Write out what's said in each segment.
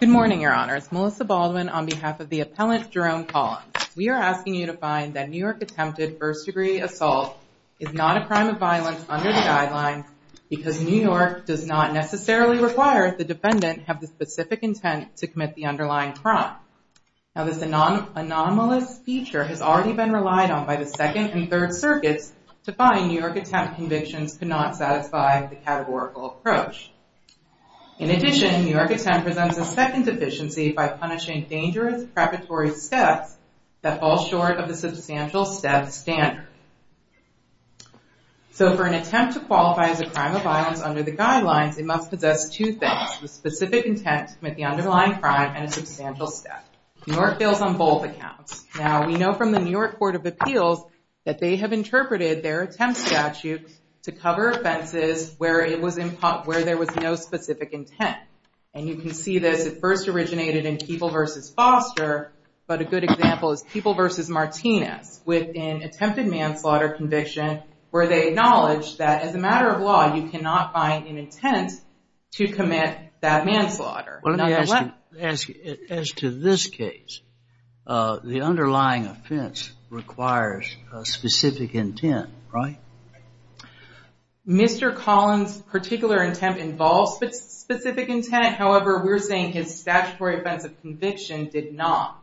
Good morning, your honors. Melissa Baldwin on behalf of the appellant Jerome Collins. We are asking you to find that New York attempted first degree assault is not a crime of violence under the guidelines because New York does not necessarily require the defendant have the specific intent to commit the underlying crime. Now this anomalous feature has already been relied on by the second and third circuits to find New York attempt convictions could not satisfy the categorical approach. In addition, New York attempt presents a second deficiency by punishing dangerous preparatory steps that fall short of the substantial step standard. So for an attempt to qualify as a crime of violence under the guidelines, it must possess two things, the specific intent to commit the underlying crime and a substantial step. New York fails on both accounts. Now we know from the New York Court of Appeals that they have interpreted their attempt statute to cover offenses where there was no specific intent. And you can see this, it first originated in People v. Foster, but a good example is People v. Martinez with an attempted manslaughter conviction where they acknowledged that as a matter of law, you cannot find an intent to commit that manslaughter. Well, let me ask you, as to this case, the underlying offense requires a specific intent, right? Mr. Collins' particular intent involves specific intent. However, we're saying his statutory offense of conviction did not.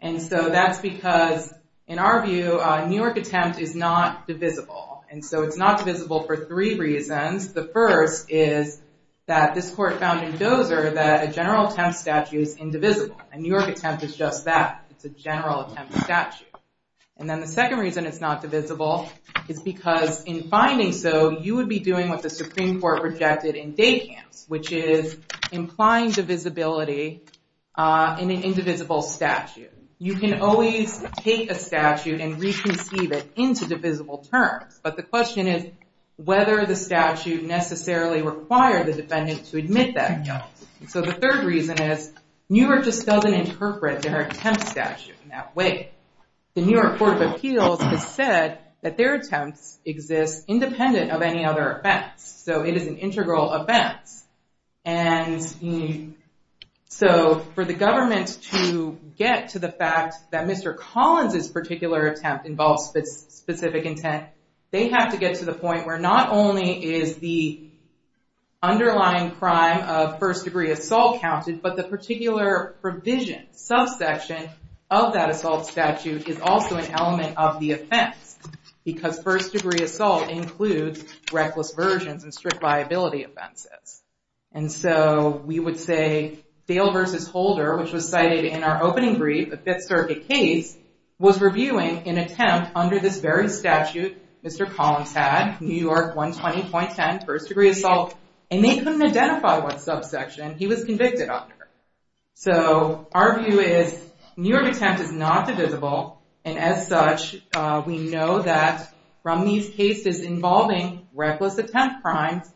And so that's because, in our view, a New York attempt is not divisible. And so it's not divisible for three reasons. The first is that this court found in Dozer that a general attempt statute is indivisible. A New York attempt is just that, it's a general attempt statute. And then the second reason it's not divisible is because in finding so, you would be doing what the Supreme Court projected in Dacams, which is implying divisibility in an indivisible statute. You can always take a statute and reconceive it into divisible terms, but the question is whether the statute necessarily required the defendant to admit that. So the third reason is New York just doesn't interpret their attempt statute in that way. The New York Court of Appeals has said that their attempts exist independent of any other offense. So it is an integral offense. And so for the government to get to the fact that Mr. Collins' particular attempt involves specific intent, they have to get to the point where not only is the underlying crime of first degree assault counted, but the particular provision, subsection of that assault statute is also an element of the offense. Because first degree assault includes reckless versions and strict viability offenses. And so we would say Dale v. Holder, which was cited in our statute, Mr. Collins had New York 120.10, first degree assault, and they couldn't identify what subsection he was convicted under. So our view is New York attempt is not divisible. And as such, we know that from these cases involving reckless attempt crimes,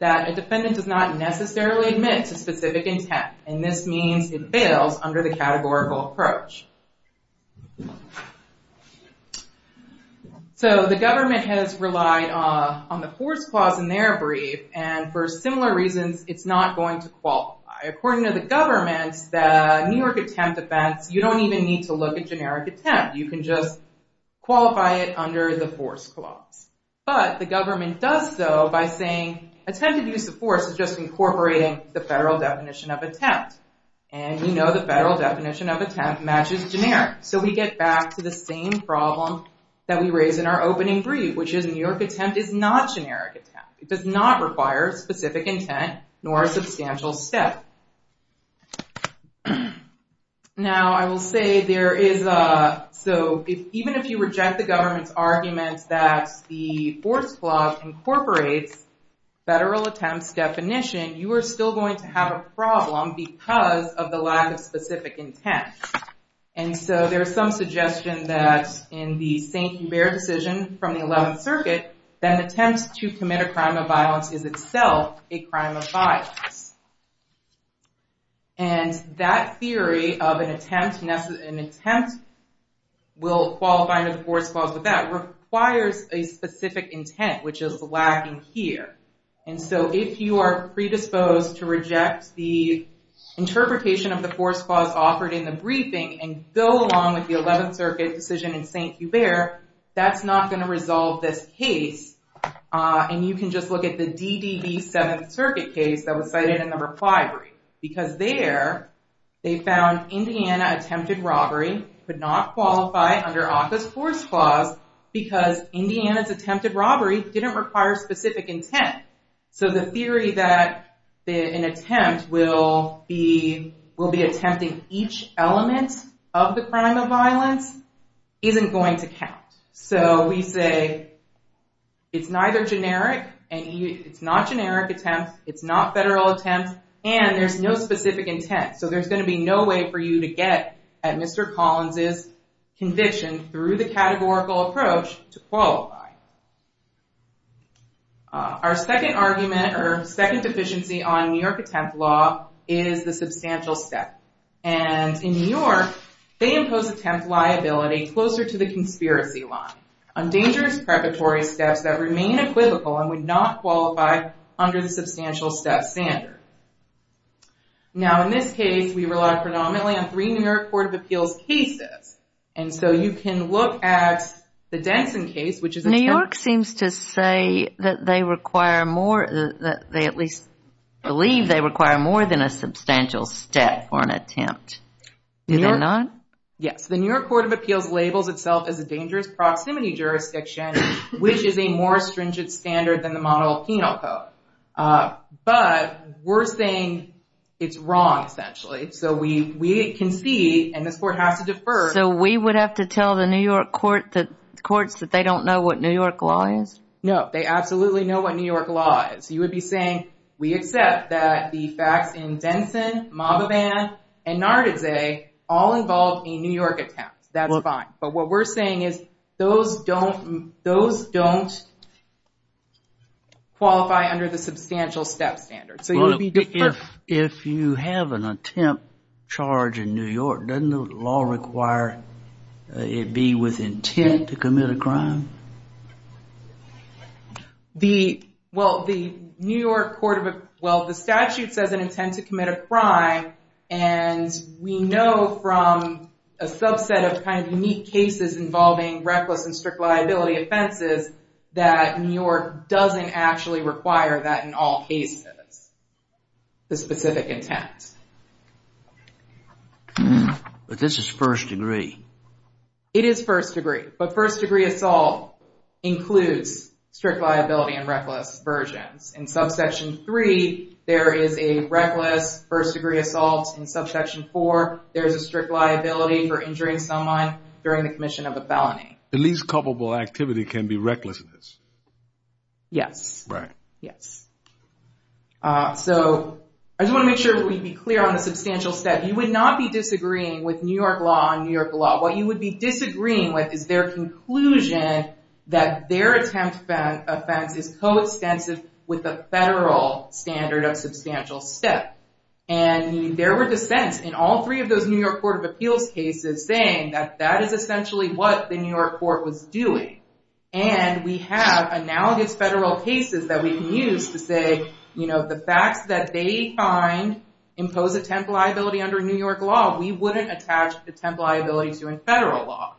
that a defendant does not necessarily admit to specific intent. And this means it fails under the So the government has relied on the force clause in their brief, and for similar reasons, it's not going to qualify. According to the government, the New York attempt offense, you don't even need to look at generic attempt. You can just qualify it under the force clause. But the government does so by saying attempted use of force is just incorporating the federal definition of attempt. And you know the federal definition of attempt matches generic. So we get back to the same problem that we raised in our opening brief, which is New York attempt is not generic attempt. It does not require specific intent, nor a substantial step. Now I will say there is, so even if you reject the government's arguments that the force clause incorporates federal attempts definition, you are still going to have a problem because of the lack of specific intent. And so there's some suggestion that in the St. Hubert decision from the 11th Circuit, that an attempt to commit a crime of violence is itself a crime of violence. And that theory of an attempt will qualify under the force clause with that requires a specific intent, which is lacking here. And so if you are predisposed to reject the interpretation of the force clause offered in the briefing and go along with the 11th Circuit decision in St. Hubert, that's not going to resolve this case. And you can just look at the DDB 7th Circuit case that was cited in the reply brief. Because there, they found Indiana attempted robbery could not qualify under ACCA's force clause because Indiana's attempted robbery didn't require specific intent. So the theory that an attempt will be attempting each element of the crime of violence isn't going to count. So we say it's neither generic, it's not generic attempt, it's not federal attempt, and there's no specific intent. So there's going to be no way for you to get at Mr. Collins' conviction through the categorical approach to qualify. Our second argument or second deficiency on New York attempt law is the substantial step. And in New York, they impose attempt liability closer to the conspiracy line on dangerous preparatory steps that remain equivocal and would not qualify under the substantial step standard. Now in this case, we relied predominantly on three New York Court of Appeals cases. And so you can look at the Denson case, which is a... New York seems to say that they require more, that they at least believe they require more than a substantial step or an attempt. Do they not? Yes. The New York Court of Appeals labels itself as a dangerous proximity jurisdiction, which is a more stringent standard than the penal code. But we're saying it's wrong, essentially. So we can see, and this court has to defer... So we would have to tell the New York courts that they don't know what New York law is? No, they absolutely know what New York law is. You would be saying, we accept that the facts in Denson, Maboban, and Nardizze all involve a New York attempt. That's fine. But what we're saying is, those don't qualify under the substantial step standard. So you would be deferring... If you have an attempt charge in New York, doesn't the law require it be with intent to commit a crime? The... Well, the New York Court of... Well, the statute says an intent to commit a crime. And we know from a subset of unique cases involving reckless and strict liability offenses that New York doesn't actually require that in all cases, the specific intent. But this is first degree. It is first degree. But first degree assault includes strict liability and reckless versions. In subsection three, there is a reckless first degree assault. In subsection four, there's a strict liability for injuring someone during the commission of a felony. The least culpable activity can be recklessness. Yes. Right. Yes. So I just want to make sure that we be clear on the substantial step. You would not be disagreeing with New York law on New York law. What you would be disagreeing with is their conclusion that their attempt offense is coextensive with the federal standard of substantial step. And there were dissents in all three of those New York Court of Appeals cases saying that that is essentially what the New York court was doing. And we have analogous federal cases that we can use to say, you know, the facts that they find impose attempt liability under New York law, we wouldn't attach attempt liability to a federal law.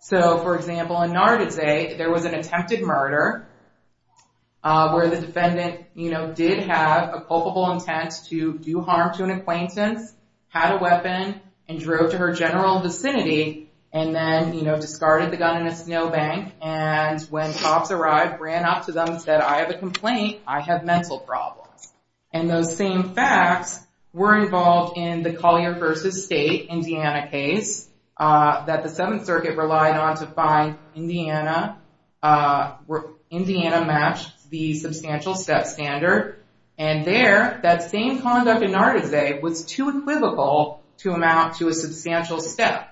So, for example, in Nargisay, there was an attempted murder where the defendant, you know, did have a culpable intent to do harm to an acquaintance, had a weapon, and drove to her general vicinity, and then, you know, discarded the gun in a snowbank. And when cops arrived, ran up to them and said, I have a complaint. I have mental problems. And those same facts were involved in the Collier v. State, Indiana case that the Seventh Circuit relied on to find Indiana matched the substantial step standard. And there, that same conduct in Nargisay was too equivocal to amount to a substantial step.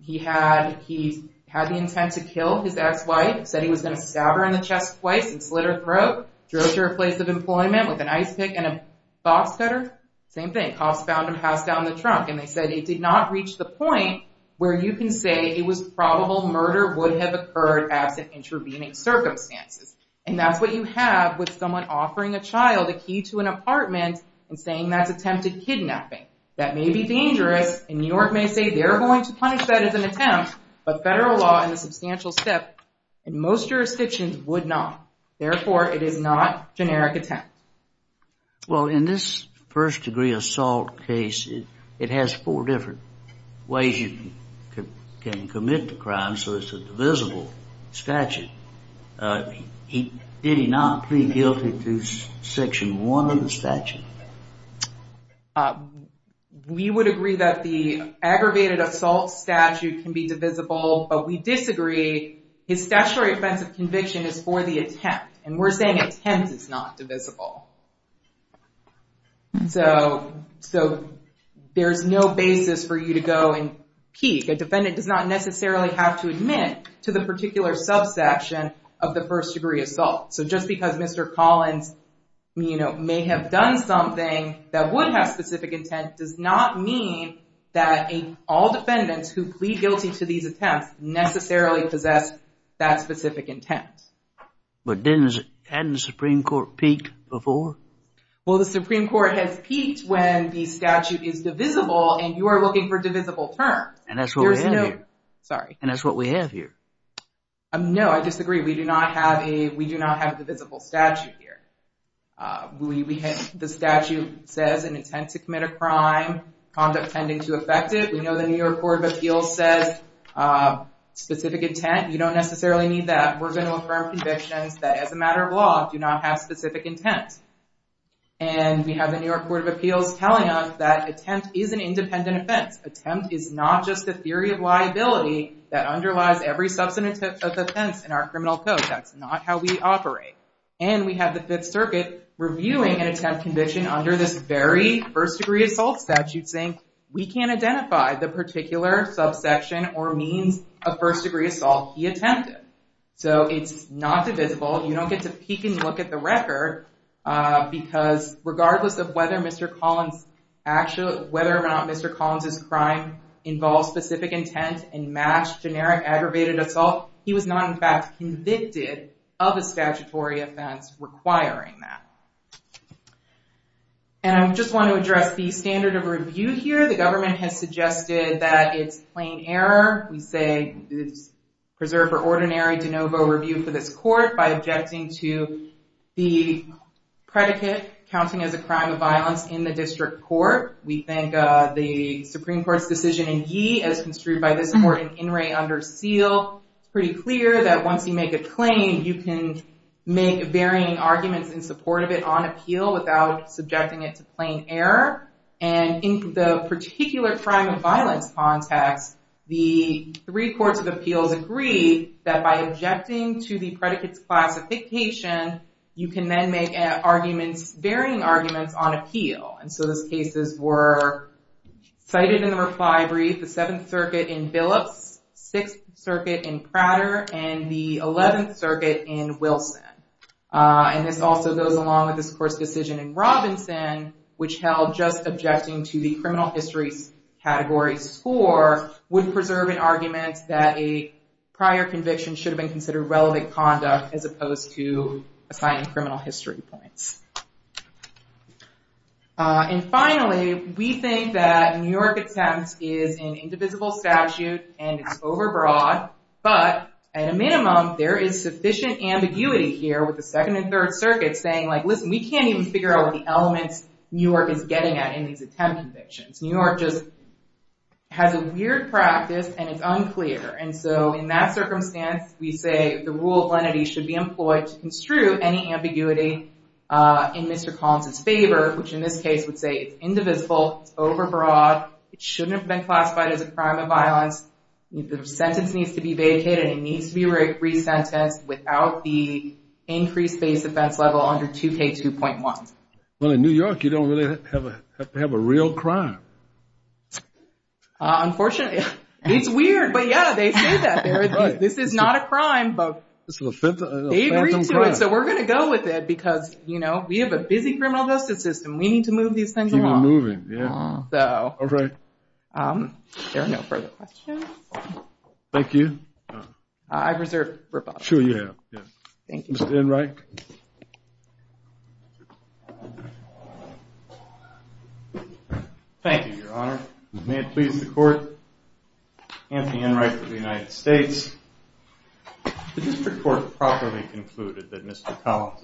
He had the intent to kill his ex-wife, said he was going to stab her in the chest twice and slit her throat, drove to her place of employment with an ice pick and a box cutter. Same thing. Cops found him, passed down the trunk. And they said it did not reach the point where you can say it was probable murder would have occurred absent intervening circumstances. And that's what you have with someone offering a child a key to an apartment and saying that's attempted kidnapping. That may be dangerous, and New York may say they're going to punish that as an attempt, but federal law and the substantial step in most jurisdictions would not. Therefore, it is not generic attempt. Well, in this first degree assault case, it has four different ways you can commit the crime, so it's a divisible statute. Did he not plead guilty to Section 1 of the statute? We would agree that the aggravated assault statute can be divisible, but we disagree. His statutory offense of conviction is for the attempt, and we're saying attempt is not divisible. So there's no basis for you to go and peek. A defendant does not necessarily have to admit to the particular subsection of the first degree assault. So just because Mr. Collins may have done something that would have specific intent does not mean that all defendants who attempt. But then hadn't the Supreme Court peaked before? Well, the Supreme Court has peaked when the statute is divisible, and you are looking for divisible terms. And that's what we have here. No, I disagree. We do not have a divisible statute here. The statute says an intent to commit a crime, conduct tending to affect it. We know the New York Court of Appeals says specific intent. You don't necessarily need that. We're going to affirm convictions that, as a matter of law, do not have specific intent. And we have the New York Court of Appeals telling us that attempt is an independent offense. Attempt is not just a theory of liability that underlies every substantive offense in our criminal code. That's not how we operate. And we have the Fifth Circuit reviewing an attempt conviction under this very first degree assault statute saying we can't identify the particular subsection or means of first degree assault he attempted. So it's not divisible. You don't get to peek and look at the record, because regardless of whether or not Mr. Collins' crime involves specific intent and matched generic aggravated assault, he was not in fact convicted of a statutory offense requiring that. And I just want to address the standard of review here. The government has suggested that it's plain error. We say it's preserved for ordinary de novo review for this court by objecting to the predicate counting as a crime of violence in the district court. We think the Supreme Court's decision in Yee, as construed by this court in In re Under Seal, it's pretty clear that once you make a claim, you can make varying arguments in support of it on appeal without subjecting it to plain error. And in the particular crime of violence context, the three courts of appeals agree that by objecting to the predicate's classification, you can then make arguments, varying arguments, on appeal. And so those cases were cited in the reply brief, the Seventh Circuit in Billups, Sixth Circuit in Prater, and the Eleventh Circuit in Wilson. And this also goes along with this court's decision in Robinson, which held just objecting to the criminal history's category score would preserve an argument that a prior conviction should have been considered relevant conduct as opposed to assigning criminal history points. And finally, we think that New York is an indivisible statute, and it's overbroad. But at a minimum, there is sufficient ambiguity here with the Second and Third Circuits saying, like, listen, we can't even figure out what the elements New York is getting at in these attempt convictions. New York just has a weird practice, and it's unclear. And so in that circumstance, we say the rule of lenity should be employed to construe any ambiguity in Mr. Collins's favor, which in this case would say it's indivisible, it's overbroad, it shouldn't have been classified as a crime of violence, the sentence needs to be vacated, it needs to be re-sentenced without the increased base offense level under 2K2.1. Well, in New York, you don't really have a real crime. Unfortunately, it's weird, but yeah, they say that. This is not a crime, but they agree to it, so we're going to go with it because, you know, we have a busy criminal justice system. We need to move these things along. All right. There are no further questions. Thank you. I've reserved for Bob. Sure you have, yes. Thank you. Mr. Enright. Thank you, Your Honor. May it please the Court. Anthony Enright for the United States. The District Court properly concluded that Mr. Collins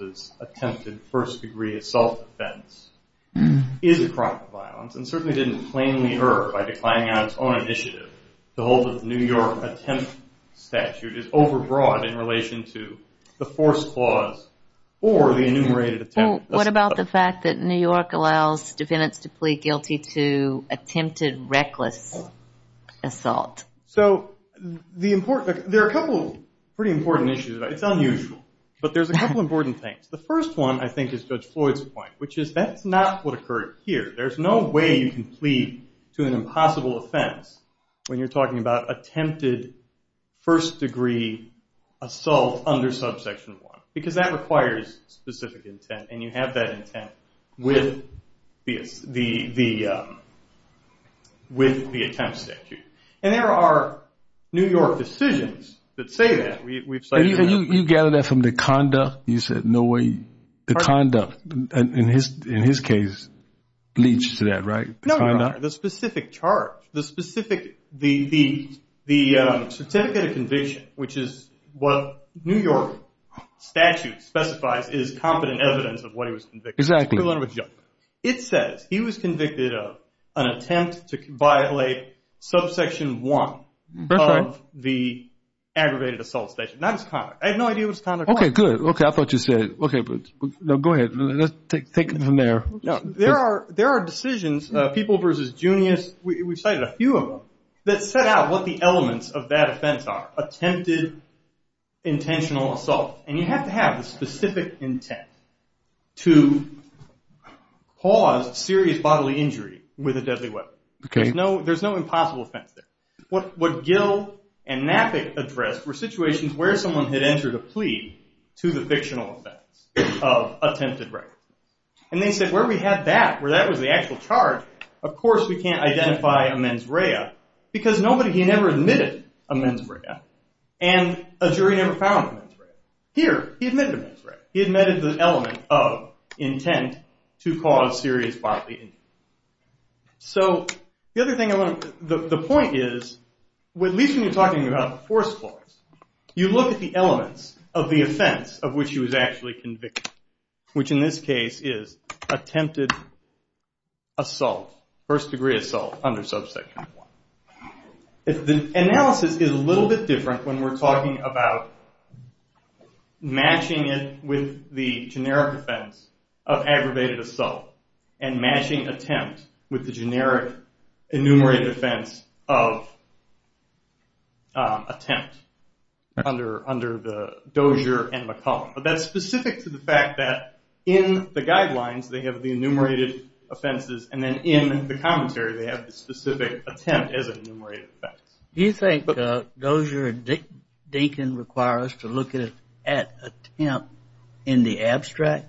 is a crime of violence and certainly didn't plainly err by declining on its own initiative to hold that the New York attempt statute is overbroad in relation to the force clause or the enumerated attempt. What about the fact that New York allows defendants to plead guilty to attempted reckless assault? So, there are a couple of pretty important issues. It's unusual, but there's a couple of important things. The first one, I think, is Judge Floyd's point, that's not what occurred here. There's no way you can plead to an impossible offense when you're talking about attempted first degree assault under subsection 1 because that requires specific intent and you have that intent with the attempt statute. And there are New York decisions that say that. You gather that from the conduct, you said, the conduct, in his case, leads to that, right? No, Your Honor. The specific charge, the specific, the certificate of conviction, which is what New York statute specifies is competent evidence of what he was convicted of. Exactly. It says he was convicted of an attempt to violate subsection 1 of the aggravated assault statute. I had no idea what his conduct was. Okay, good. I thought you said, okay, but no, go ahead. Let's take it from there. There are decisions, people versus Junius, we've cited a few of them, that set out what the elements of that offense are. Attempted intentional assault. And you have to have the specific intent to cause serious bodily injury with a deadly weapon. Okay. There's no impossible offense there. What Gill and Naffic addressed were situations where someone had entered a plea to the fictional offense of attempted rape. And they said, where we had that, where that was the actual charge, of course we can't identify a mens rea, because nobody, he never admitted a mens rea, and a jury never found a mens rea. Here, he admitted a mens rea. He admitted the element of intent to cause serious bodily injury. So, the other thing I want to, the point is, at least when you're talking about the force clause, you look at the elements of the offense of which he was actually convicted. Which in this case is attempted assault, first degree assault under subsection 1. The analysis is a little bit different when we're talking about matching it with the generic offense of aggravated assault and matching attempt with the generic enumerated offense of attempt under the Dozier and McCollum. But that's specific to the fact that in the guidelines they have the enumerated offenses and then in the commentary they have the specific attempt as an enumerated offense. Do you think Dozier and Dinkin require us to look at attempt in the abstract?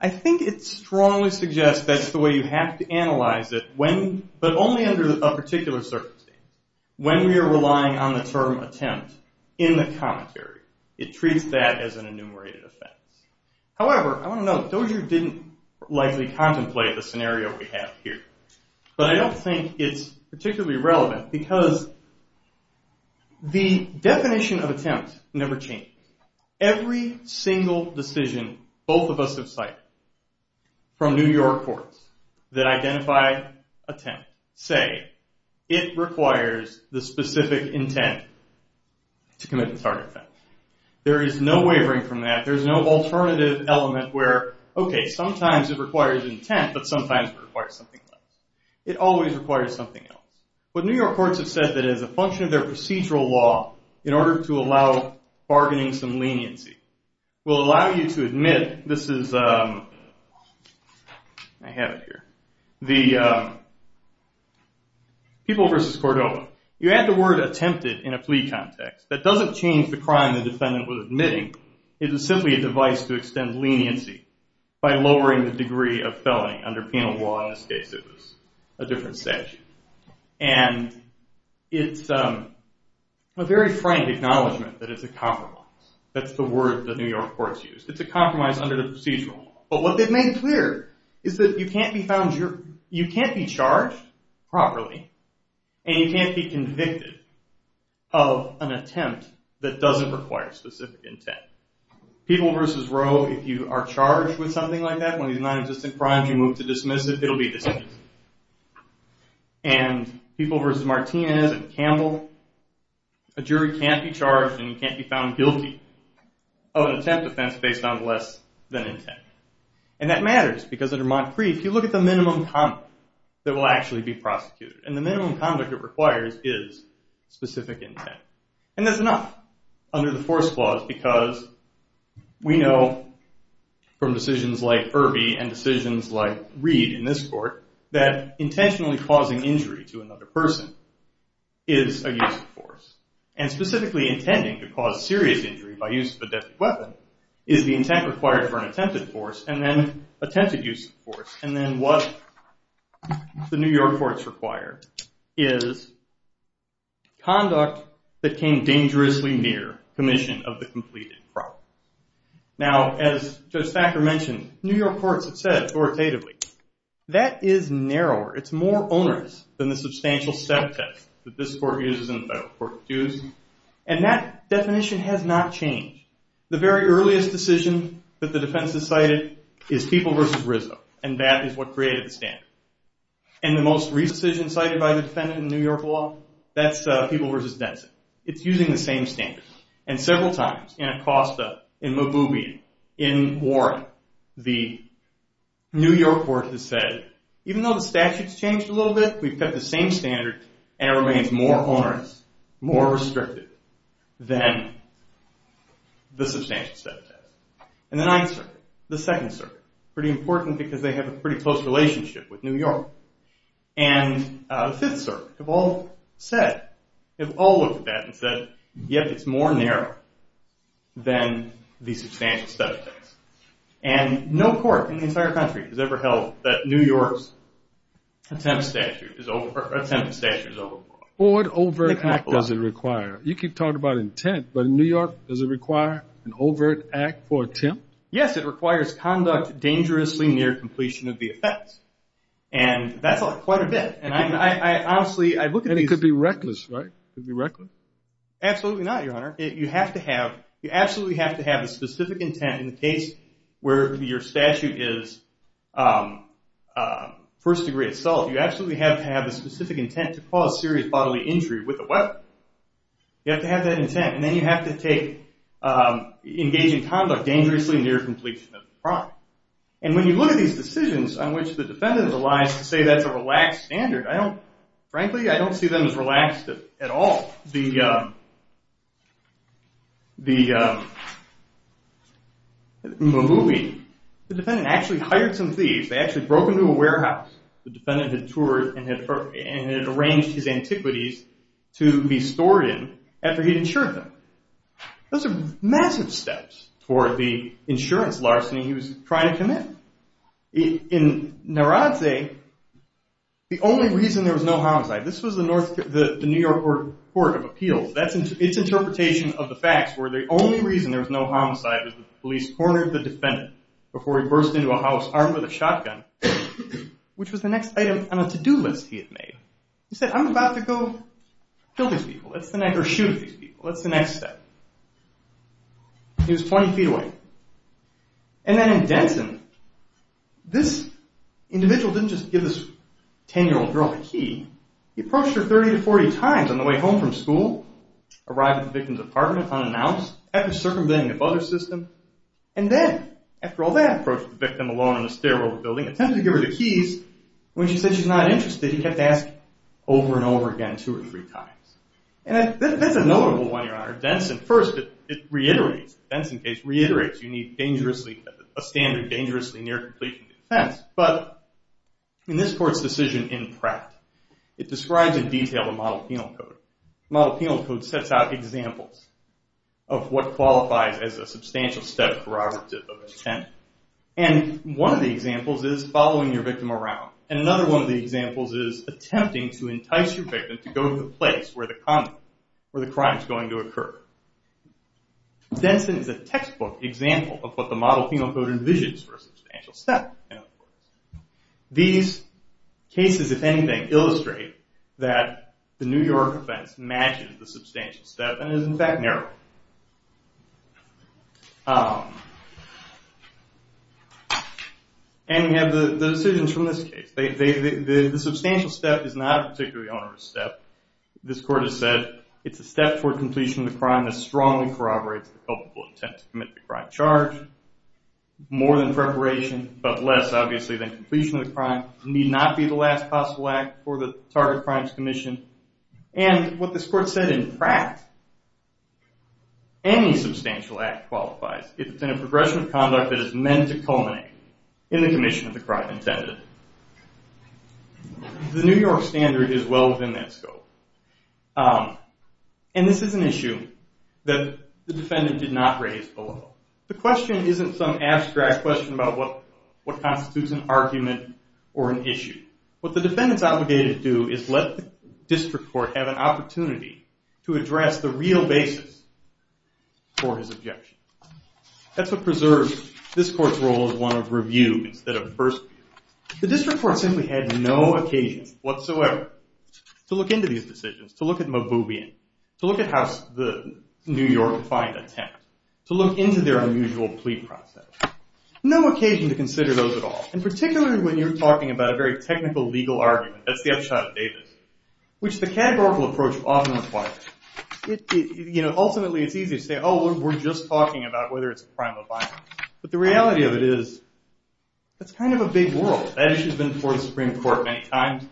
I think it strongly suggests that's the way you have to analyze it, but only under a particular circumstance. When we are relying on the term attempt in the commentary, it treats that as an enumerated offense. However, I want to note, Dozier didn't likely contemplate the scenario we have here, but I don't think it's particularly relevant because the definition of attempt never changes. Every single decision both of us have cited from New York courts that identify attempt say it requires the specific intent to commit the target offense. There is no wavering from that. There's no alternative element where, okay, sometimes it requires intent, but sometimes it requires something else. It always requires something else. But New York courts have said that as a function of their procedural law, in order to allow bargaining some leniency, will allow you to admit this is, I have it here, the people versus Cordova. You add the word attempted in a plea context. That doesn't change the crime the defendant was admitting. It was simply a device to extend leniency by lowering the degree of felony under penal law. In this case, it was a different statute. And it's a very frank acknowledgment that it's a compromise. That's the word the New York courts used. It's a compromise under the procedural law. But what they've made clear is that you can't be found, you can't be charged properly, and you can't be convicted of an attempt that doesn't require specific intent. People versus Roe, if you are charged with something like that, one of these crimes, you move to dismiss it, it'll be dismissed. And people versus Martinez and Campbell, a jury can't be charged and you can't be found guilty of an attempt offense based on less than intent. And that matters because under Montcrieff, you look at the minimum conduct that will actually be prosecuted. And the minimum conduct it requires is specific intent. And that's enough under the force clause because we know from decisions like Irby and decisions like Reed in this court that intentionally causing injury to another person is a use of force. And specifically intending to cause serious injury by use of a deadly weapon is the intent required for an attempted force and then attempted use of force. And then what the New York courts require is conduct that came dangerously near commission of the completed crime. Now as Judge Thacker mentioned, New York courts have said authoritatively, that is narrower, it's more onerous than the substantial set of tests that this court uses and the federal court uses. And that definition has not changed. The very earliest decision that the defense has cited is people versus Rizzo. And that is what created the standard. And the most recent decision cited by the defendant in New York law, that's people versus Denson. It's using the same standard. And several times in Acosta, in Mububi, in Warren, the New York court has said, even though the statute's changed a little bit, we've kept the same standard and it remains more onerous, more important because they have a pretty close relationship with New York. And Fifth Circuit have all said, have all looked at that and said, yep, it's more narrow than the substantial set of things. And no court in the entire country has ever held that New York's attempted statute is overboard. What overt act does it require? You keep talking about intent, but in New York does it require an overt act for attempt? Yes, it requires conduct dangerously near completion of the effect. And that's quite a bit. And I honestly, I look at these- And it could be reckless, right? It could be reckless? Absolutely not, Your Honor. You have to have, you absolutely have to have a specific intent in the case where your statute is first degree assault. You absolutely have to have a specific intent to take engaging conduct dangerously near completion of the crime. And when you look at these decisions on which the defendant relies to say that's a relaxed standard, I don't, frankly, I don't see them as relaxed at all. In the movie, the defendant actually hired some thieves. They actually broke into a warehouse the defendant had toured and had arranged his antiquities to be stored in after he'd insured them. Those are massive steps for the insurance larceny he was trying to commit. In Narrazze, the only reason there was no homicide, this was the New York Court of Appeals, that's its interpretation of the facts, where the only reason there was no homicide was the police cornered the defendant before he burst into a house armed with a shotgun, which was the next item on a to-do list he had made. He said, I'm about to go kill these people. That's the next, or shoot these people. That's the next step. He was 20 feet away. And then in Denson, this individual didn't just give this 10-year-old girl a key. He approached her 30 to 40 times on the way home from school, arrived at the victim's apartment unannounced, after circumventing the mother's system, and then, after all that, approached the victim alone in a stairwell building, attempted to give her the keys. When she said she's not interested, he kept asking over and over again, two or three times. And that's a notable one, Your Honor. Denson, first, it reiterates, the Denson case reiterates, you need dangerously, a standard dangerously near completion defense. But in this court's decision in Pratt, it describes in detail the model penal code. The model penal code sets out examples of what qualifies as a substantial step corroborative of intent. And one of the examples is following your victim around. And another one of the examples is attempting to entice your victim to go to the place where the crime is going to occur. Denson is a textbook example of what the model penal code envisions for a substantial step. These cases, if anything, illustrate that the New York offense matches the substantial step and is, in fact, narrow. And we have the decisions from this case. The substantial step is not a particularly onerous step. This court has said, it's a step toward completion of the crime that strongly corroborates the culpable intent to commit the crime charge. More than preparation, but less, obviously, than completion of the crime. Need not be the last possible act for the target crimes commission. And what this court said in Pratt, any substantial act qualifies if it's in a progression of conduct that is meant to culminate in the commission of the crime intended. The New York standard is well within that scope. And this is an issue that the defendant did not raise below. The question isn't some abstract question about what constitutes an argument or an issue. What the defendant's obligated to do is let the district court have an opportunity to address the real basis for his objection. That's what preserves this court's role as one of review instead of first view. The district court simply had no occasion whatsoever to look into these decisions, to look at Maboubian, to look at the New York defiant attempt, to look into their unusual plea process. No occasion to consider those at all. And particularly when you're talking about a very technical legal argument, that's the upshot of Davis, which the categorical approach often requires. Ultimately, it's easy to say, oh, we're just talking about whether it's a crime of violence. But the reality of it is, that's kind of a big world. That issue's been before the Supreme Court many times.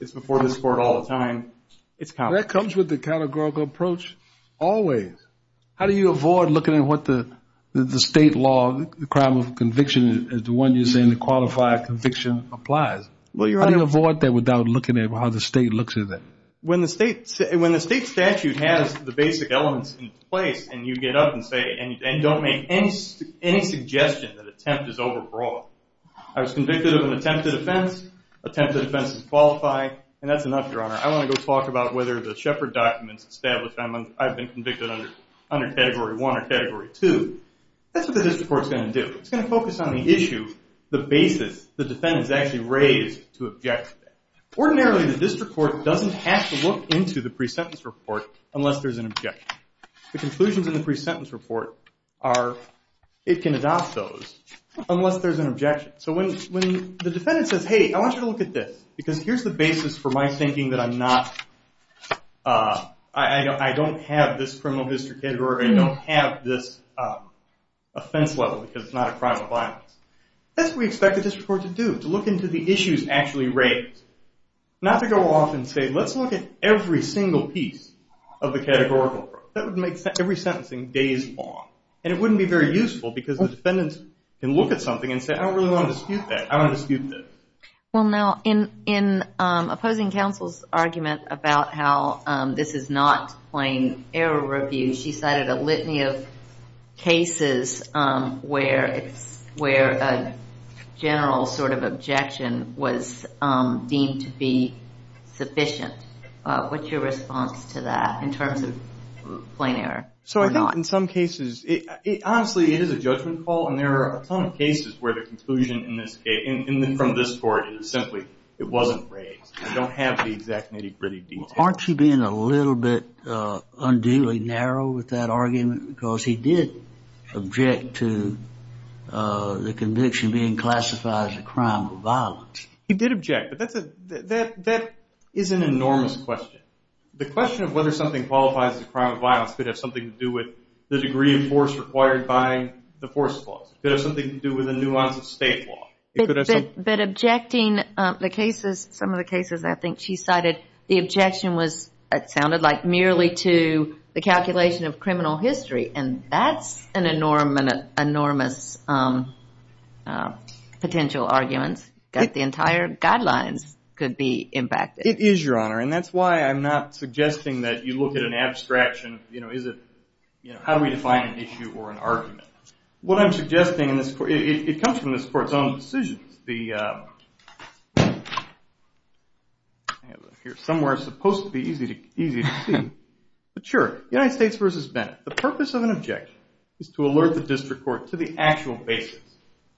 It's before this court all the time. It's common. That comes with the categorical approach always. How do you avoid looking at the state law, the crime of conviction as the one you're saying, the qualified conviction applies? How do you avoid that without looking at how the state looks at that? When the state statute has the basic elements in place, and you get up and say, and don't make any suggestion that attempt is overbroad. I was convicted of an attempted offense, attempted offense is qualified. And that's enough, Your Honor. I want to go talk about the shepherd documents established. I've been convicted under category one or category two. That's what the district court's going to do. It's going to focus on the issue, the basis the defendant's actually raised to object. Ordinarily, the district court doesn't have to look into the pre-sentence report unless there's an objection. The conclusions in the pre-sentence report are, it can adopt those unless there's an objection. So when the defendant says, I want you to look at this, because here's the basis for my thinking that I don't have this criminal history category, I don't have this offense level, because it's not a crime of violence. That's what we expect the district court to do, to look into the issues actually raised. Not to go off and say, let's look at every single piece of the categorical approach. That would make every sentencing days long. And it wouldn't be very useful, because the defendant can look at and say, I don't really want to dispute that. In opposing counsel's argument about how this is not plain error review, she cited a litany of cases where a general sort of objection was deemed to be sufficient. What's your response to that in terms of plain error? I think in some cases, honestly, it is a judgment call. And there are a ton of cases where the conclusion from this court is simply, it wasn't raised. I don't have the exact nitty-gritty details. Aren't you being a little bit unduly narrow with that argument? Because he did object to the conviction being classified as a crime of violence. He did object. But that is an enormous question. The question of whether something qualifies as a degree of force required by the force clause. Could have something to do with the nuance of state law. But objecting the cases, some of the cases I think she cited, the objection was, it sounded like, merely to the calculation of criminal history. And that's an enormous potential argument that the entire guidelines could be impacted. It is, Your Honor. And that's why I'm not suggesting that you look at an abstraction. Is it, how do we define an issue or an argument? What I'm suggesting in this court, it comes from this court's own decisions. Somewhere it's supposed to be easy to see. But sure, United States versus Bennett. The purpose of an objection is to alert the district court to the actual basis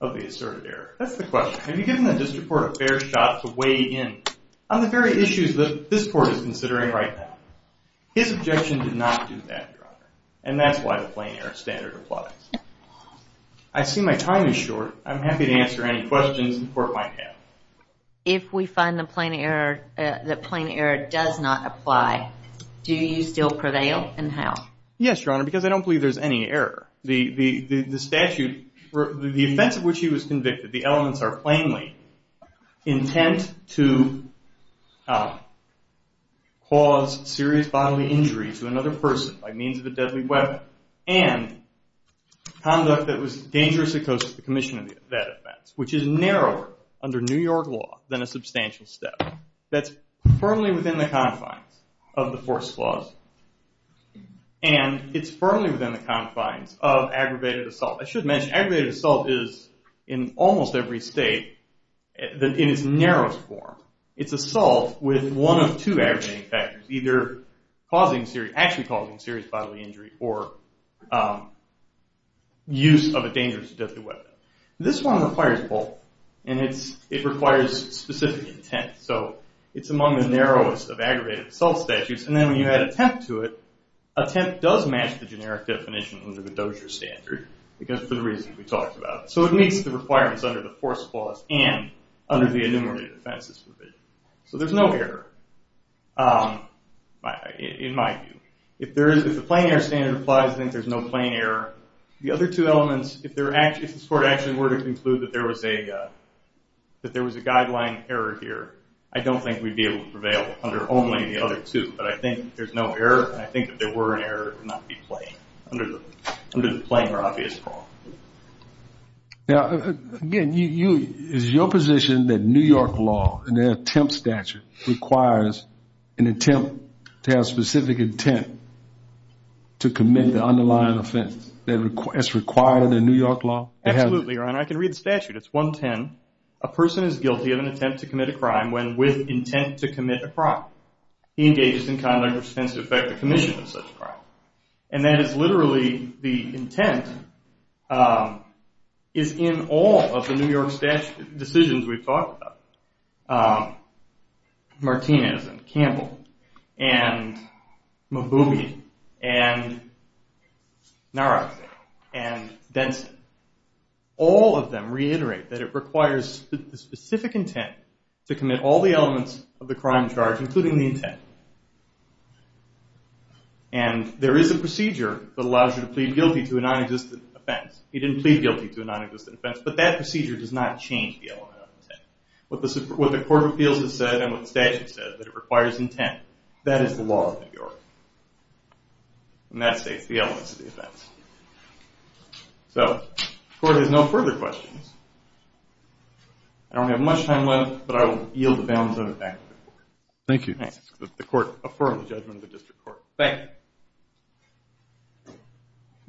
of the asserted error. That's the question. Have you given the district court a fair shot to weigh in on the very issues that this court is considering right now? His objection did not do that, Your Honor. And that's why the plain error standard applies. I see my time is short. I'm happy to answer any questions the court might have. If we find the plain error does not apply, do you still prevail? And how? Yes, Your Honor. Because I don't believe there's any error. The statute, the offense of which he was convicted, the elements are plainly intent to cause serious bodily injury to another person by means of a deadly weapon. And conduct that was dangerous to the commission of that offense, which is narrower under New York law than a substantial step. That's firmly within the confines of the force clause. And it's firmly within the confines of aggravated assault. I should mention, aggravated assault is, in almost every state, in its narrowest form, it's assault with one of two aggravating factors, either actually causing serious bodily injury or use of a dangerous deadly weapon. This one requires both. And it requires specific intent. So it's among the narrowest of aggravated assault statutes. And then when you add attempt to it, attempt does match the generic definition under the Dozier standard, because for the reason we talked about. So it meets the requirements under the force clause and under the enumerated offenses provision. So there's no error in my view. If the plain error standard applies, I think there's no plain error. The other two elements, if the court actually were to conclude that there was a guideline error here, I don't think we'd be able to prevail under only the other two. But I think there's no error. And I think if there were an error, it would not be plain under the plain or obvious clause. Now, again, is your position that New York law, in the attempt statute, requires an attempt to have specific intent to commit the underlying offense? That's required in New York law? Absolutely, Ron. I can read the statute. It's 110. A person is guilty of an attempt to attempt to effect the commission of such a crime. And that is literally the intent is in all of the New York statute decisions we've talked about. Martinez, and Campbell, and Mabuhi, and Nara, and Denson. All of them reiterate that it requires the specific intent to commit all the elements of the crime charge, including the intent. And there is a procedure that allows you to plead guilty to a non-existent offense. He didn't plead guilty to a non-existent offense. But that procedure does not change the element of intent. What the court of appeals has said and what the statute says, that it requires intent. That is the law of New York. And that states the elements of the offense. So the court has no further questions. I don't have much time left, but I will yield the balance back to the court. Thank you. The court affirms the judgment of the district court. Thank you.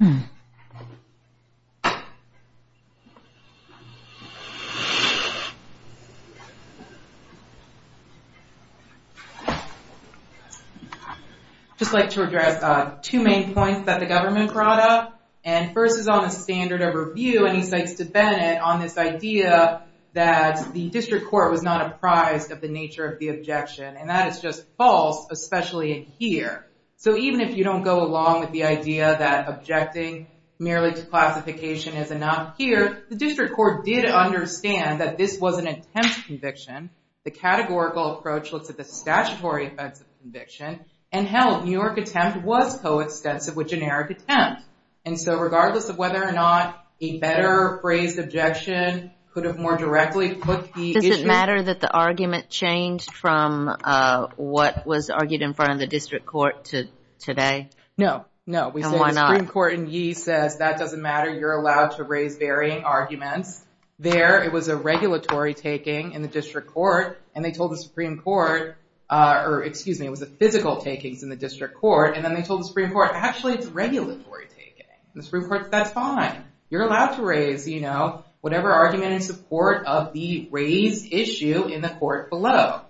Just like to address two main points that the government brought up. And first is on the standard of review. And he cites DeBennett on this idea that the district court was not apprised of the nature of the objection. And that is just false, especially in here. So even if you don't go along with the idea that objecting merely to classification is enough here, the district court did understand that this was an attempt to conviction. The categorical approach looks at the statutory offense of conviction. And held New York attempt was coextensive with generic attempt. And so regardless of whether or not a better phrased objection could have more directly put Does it matter that the argument changed from what was argued in front of the district court to today? No, no. We said the Supreme Court in Yee says that doesn't matter. You're allowed to raise varying arguments. There, it was a regulatory taking in the district court. And they told the Supreme Court, or excuse me, it was a physical takings in the district court. And then they told the Supreme Court, actually, it's regulatory taking. The Supreme Court, that's fine. You're arguing in support of the raised issue in the court below.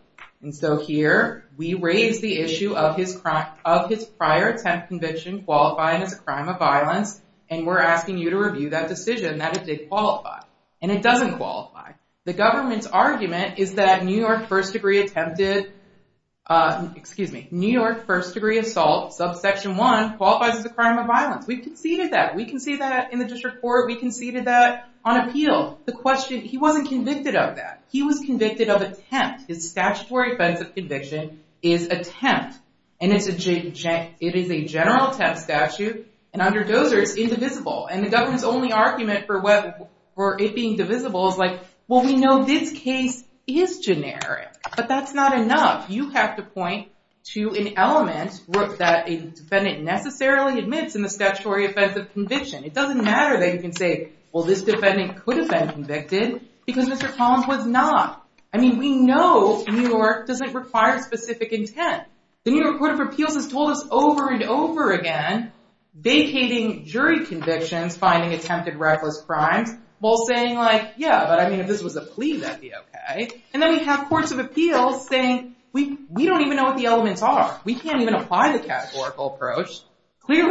And so here, we raise the issue of his prior attempt conviction qualifying as a crime of violence. And we're asking you to review that decision that it did qualify. And it doesn't qualify. The government's argument is that New York first degree attempted, excuse me, New York first degree assault, subsection one qualifies as a crime of violence. We conceded that. We conceded that in the district court. We conceded that on appeal. The question, he wasn't convicted of that. He was convicted of attempt. His statutory offense of conviction is attempt. And it is a general attempt statute. And under Dozer, it's indivisible. And the government's only argument for it being divisible is like, well, we know this case is generic. But that's not enough. You have to point to an element that a defendant necessarily admits in the statutory offense of conviction. It doesn't matter that you can say, well, this defendant could have been convicted because Mr. Collins was not. I mean, we know New York doesn't require specific intent. The New York Court of Appeals has told us over and over again, vacating jury convictions, finding attempted reckless crimes, while saying like, yeah, but I mean, if this was a plea, that'd be okay. And then we have courts of appeals saying, we don't even know what the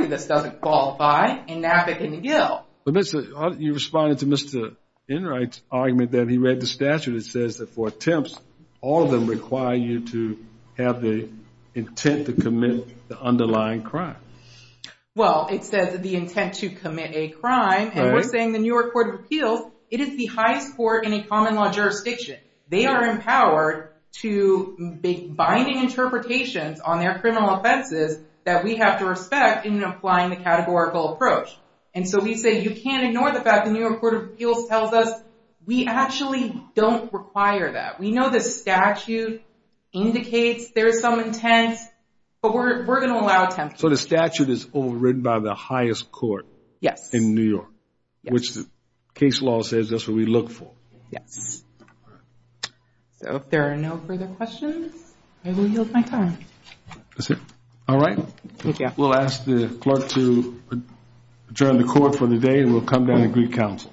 this doesn't qualify and nap it in the gill. You responded to Mr. Enright's argument that he read the statute. It says that for attempts, all of them require you to have the intent to commit the underlying crime. Well, it says the intent to commit a crime. And we're saying the New York Court of Appeals, it is the highest court in a common law jurisdiction. They are empowered to binding interpretations on their criminal offenses that we have to respect in applying the categorical approach. And so we say, you can't ignore the fact the New York Court of Appeals tells us we actually don't require that. We know the statute indicates there's some intent, but we're going to allow attempts. So the statute is overridden by the highest court. Yes. In New York, which the case law says that's what we look for. Yes. So if there are no further questions, I will yield my time. That's it. All right. We'll ask the clerk to adjourn the court for the day, and we'll come down and greet counsel.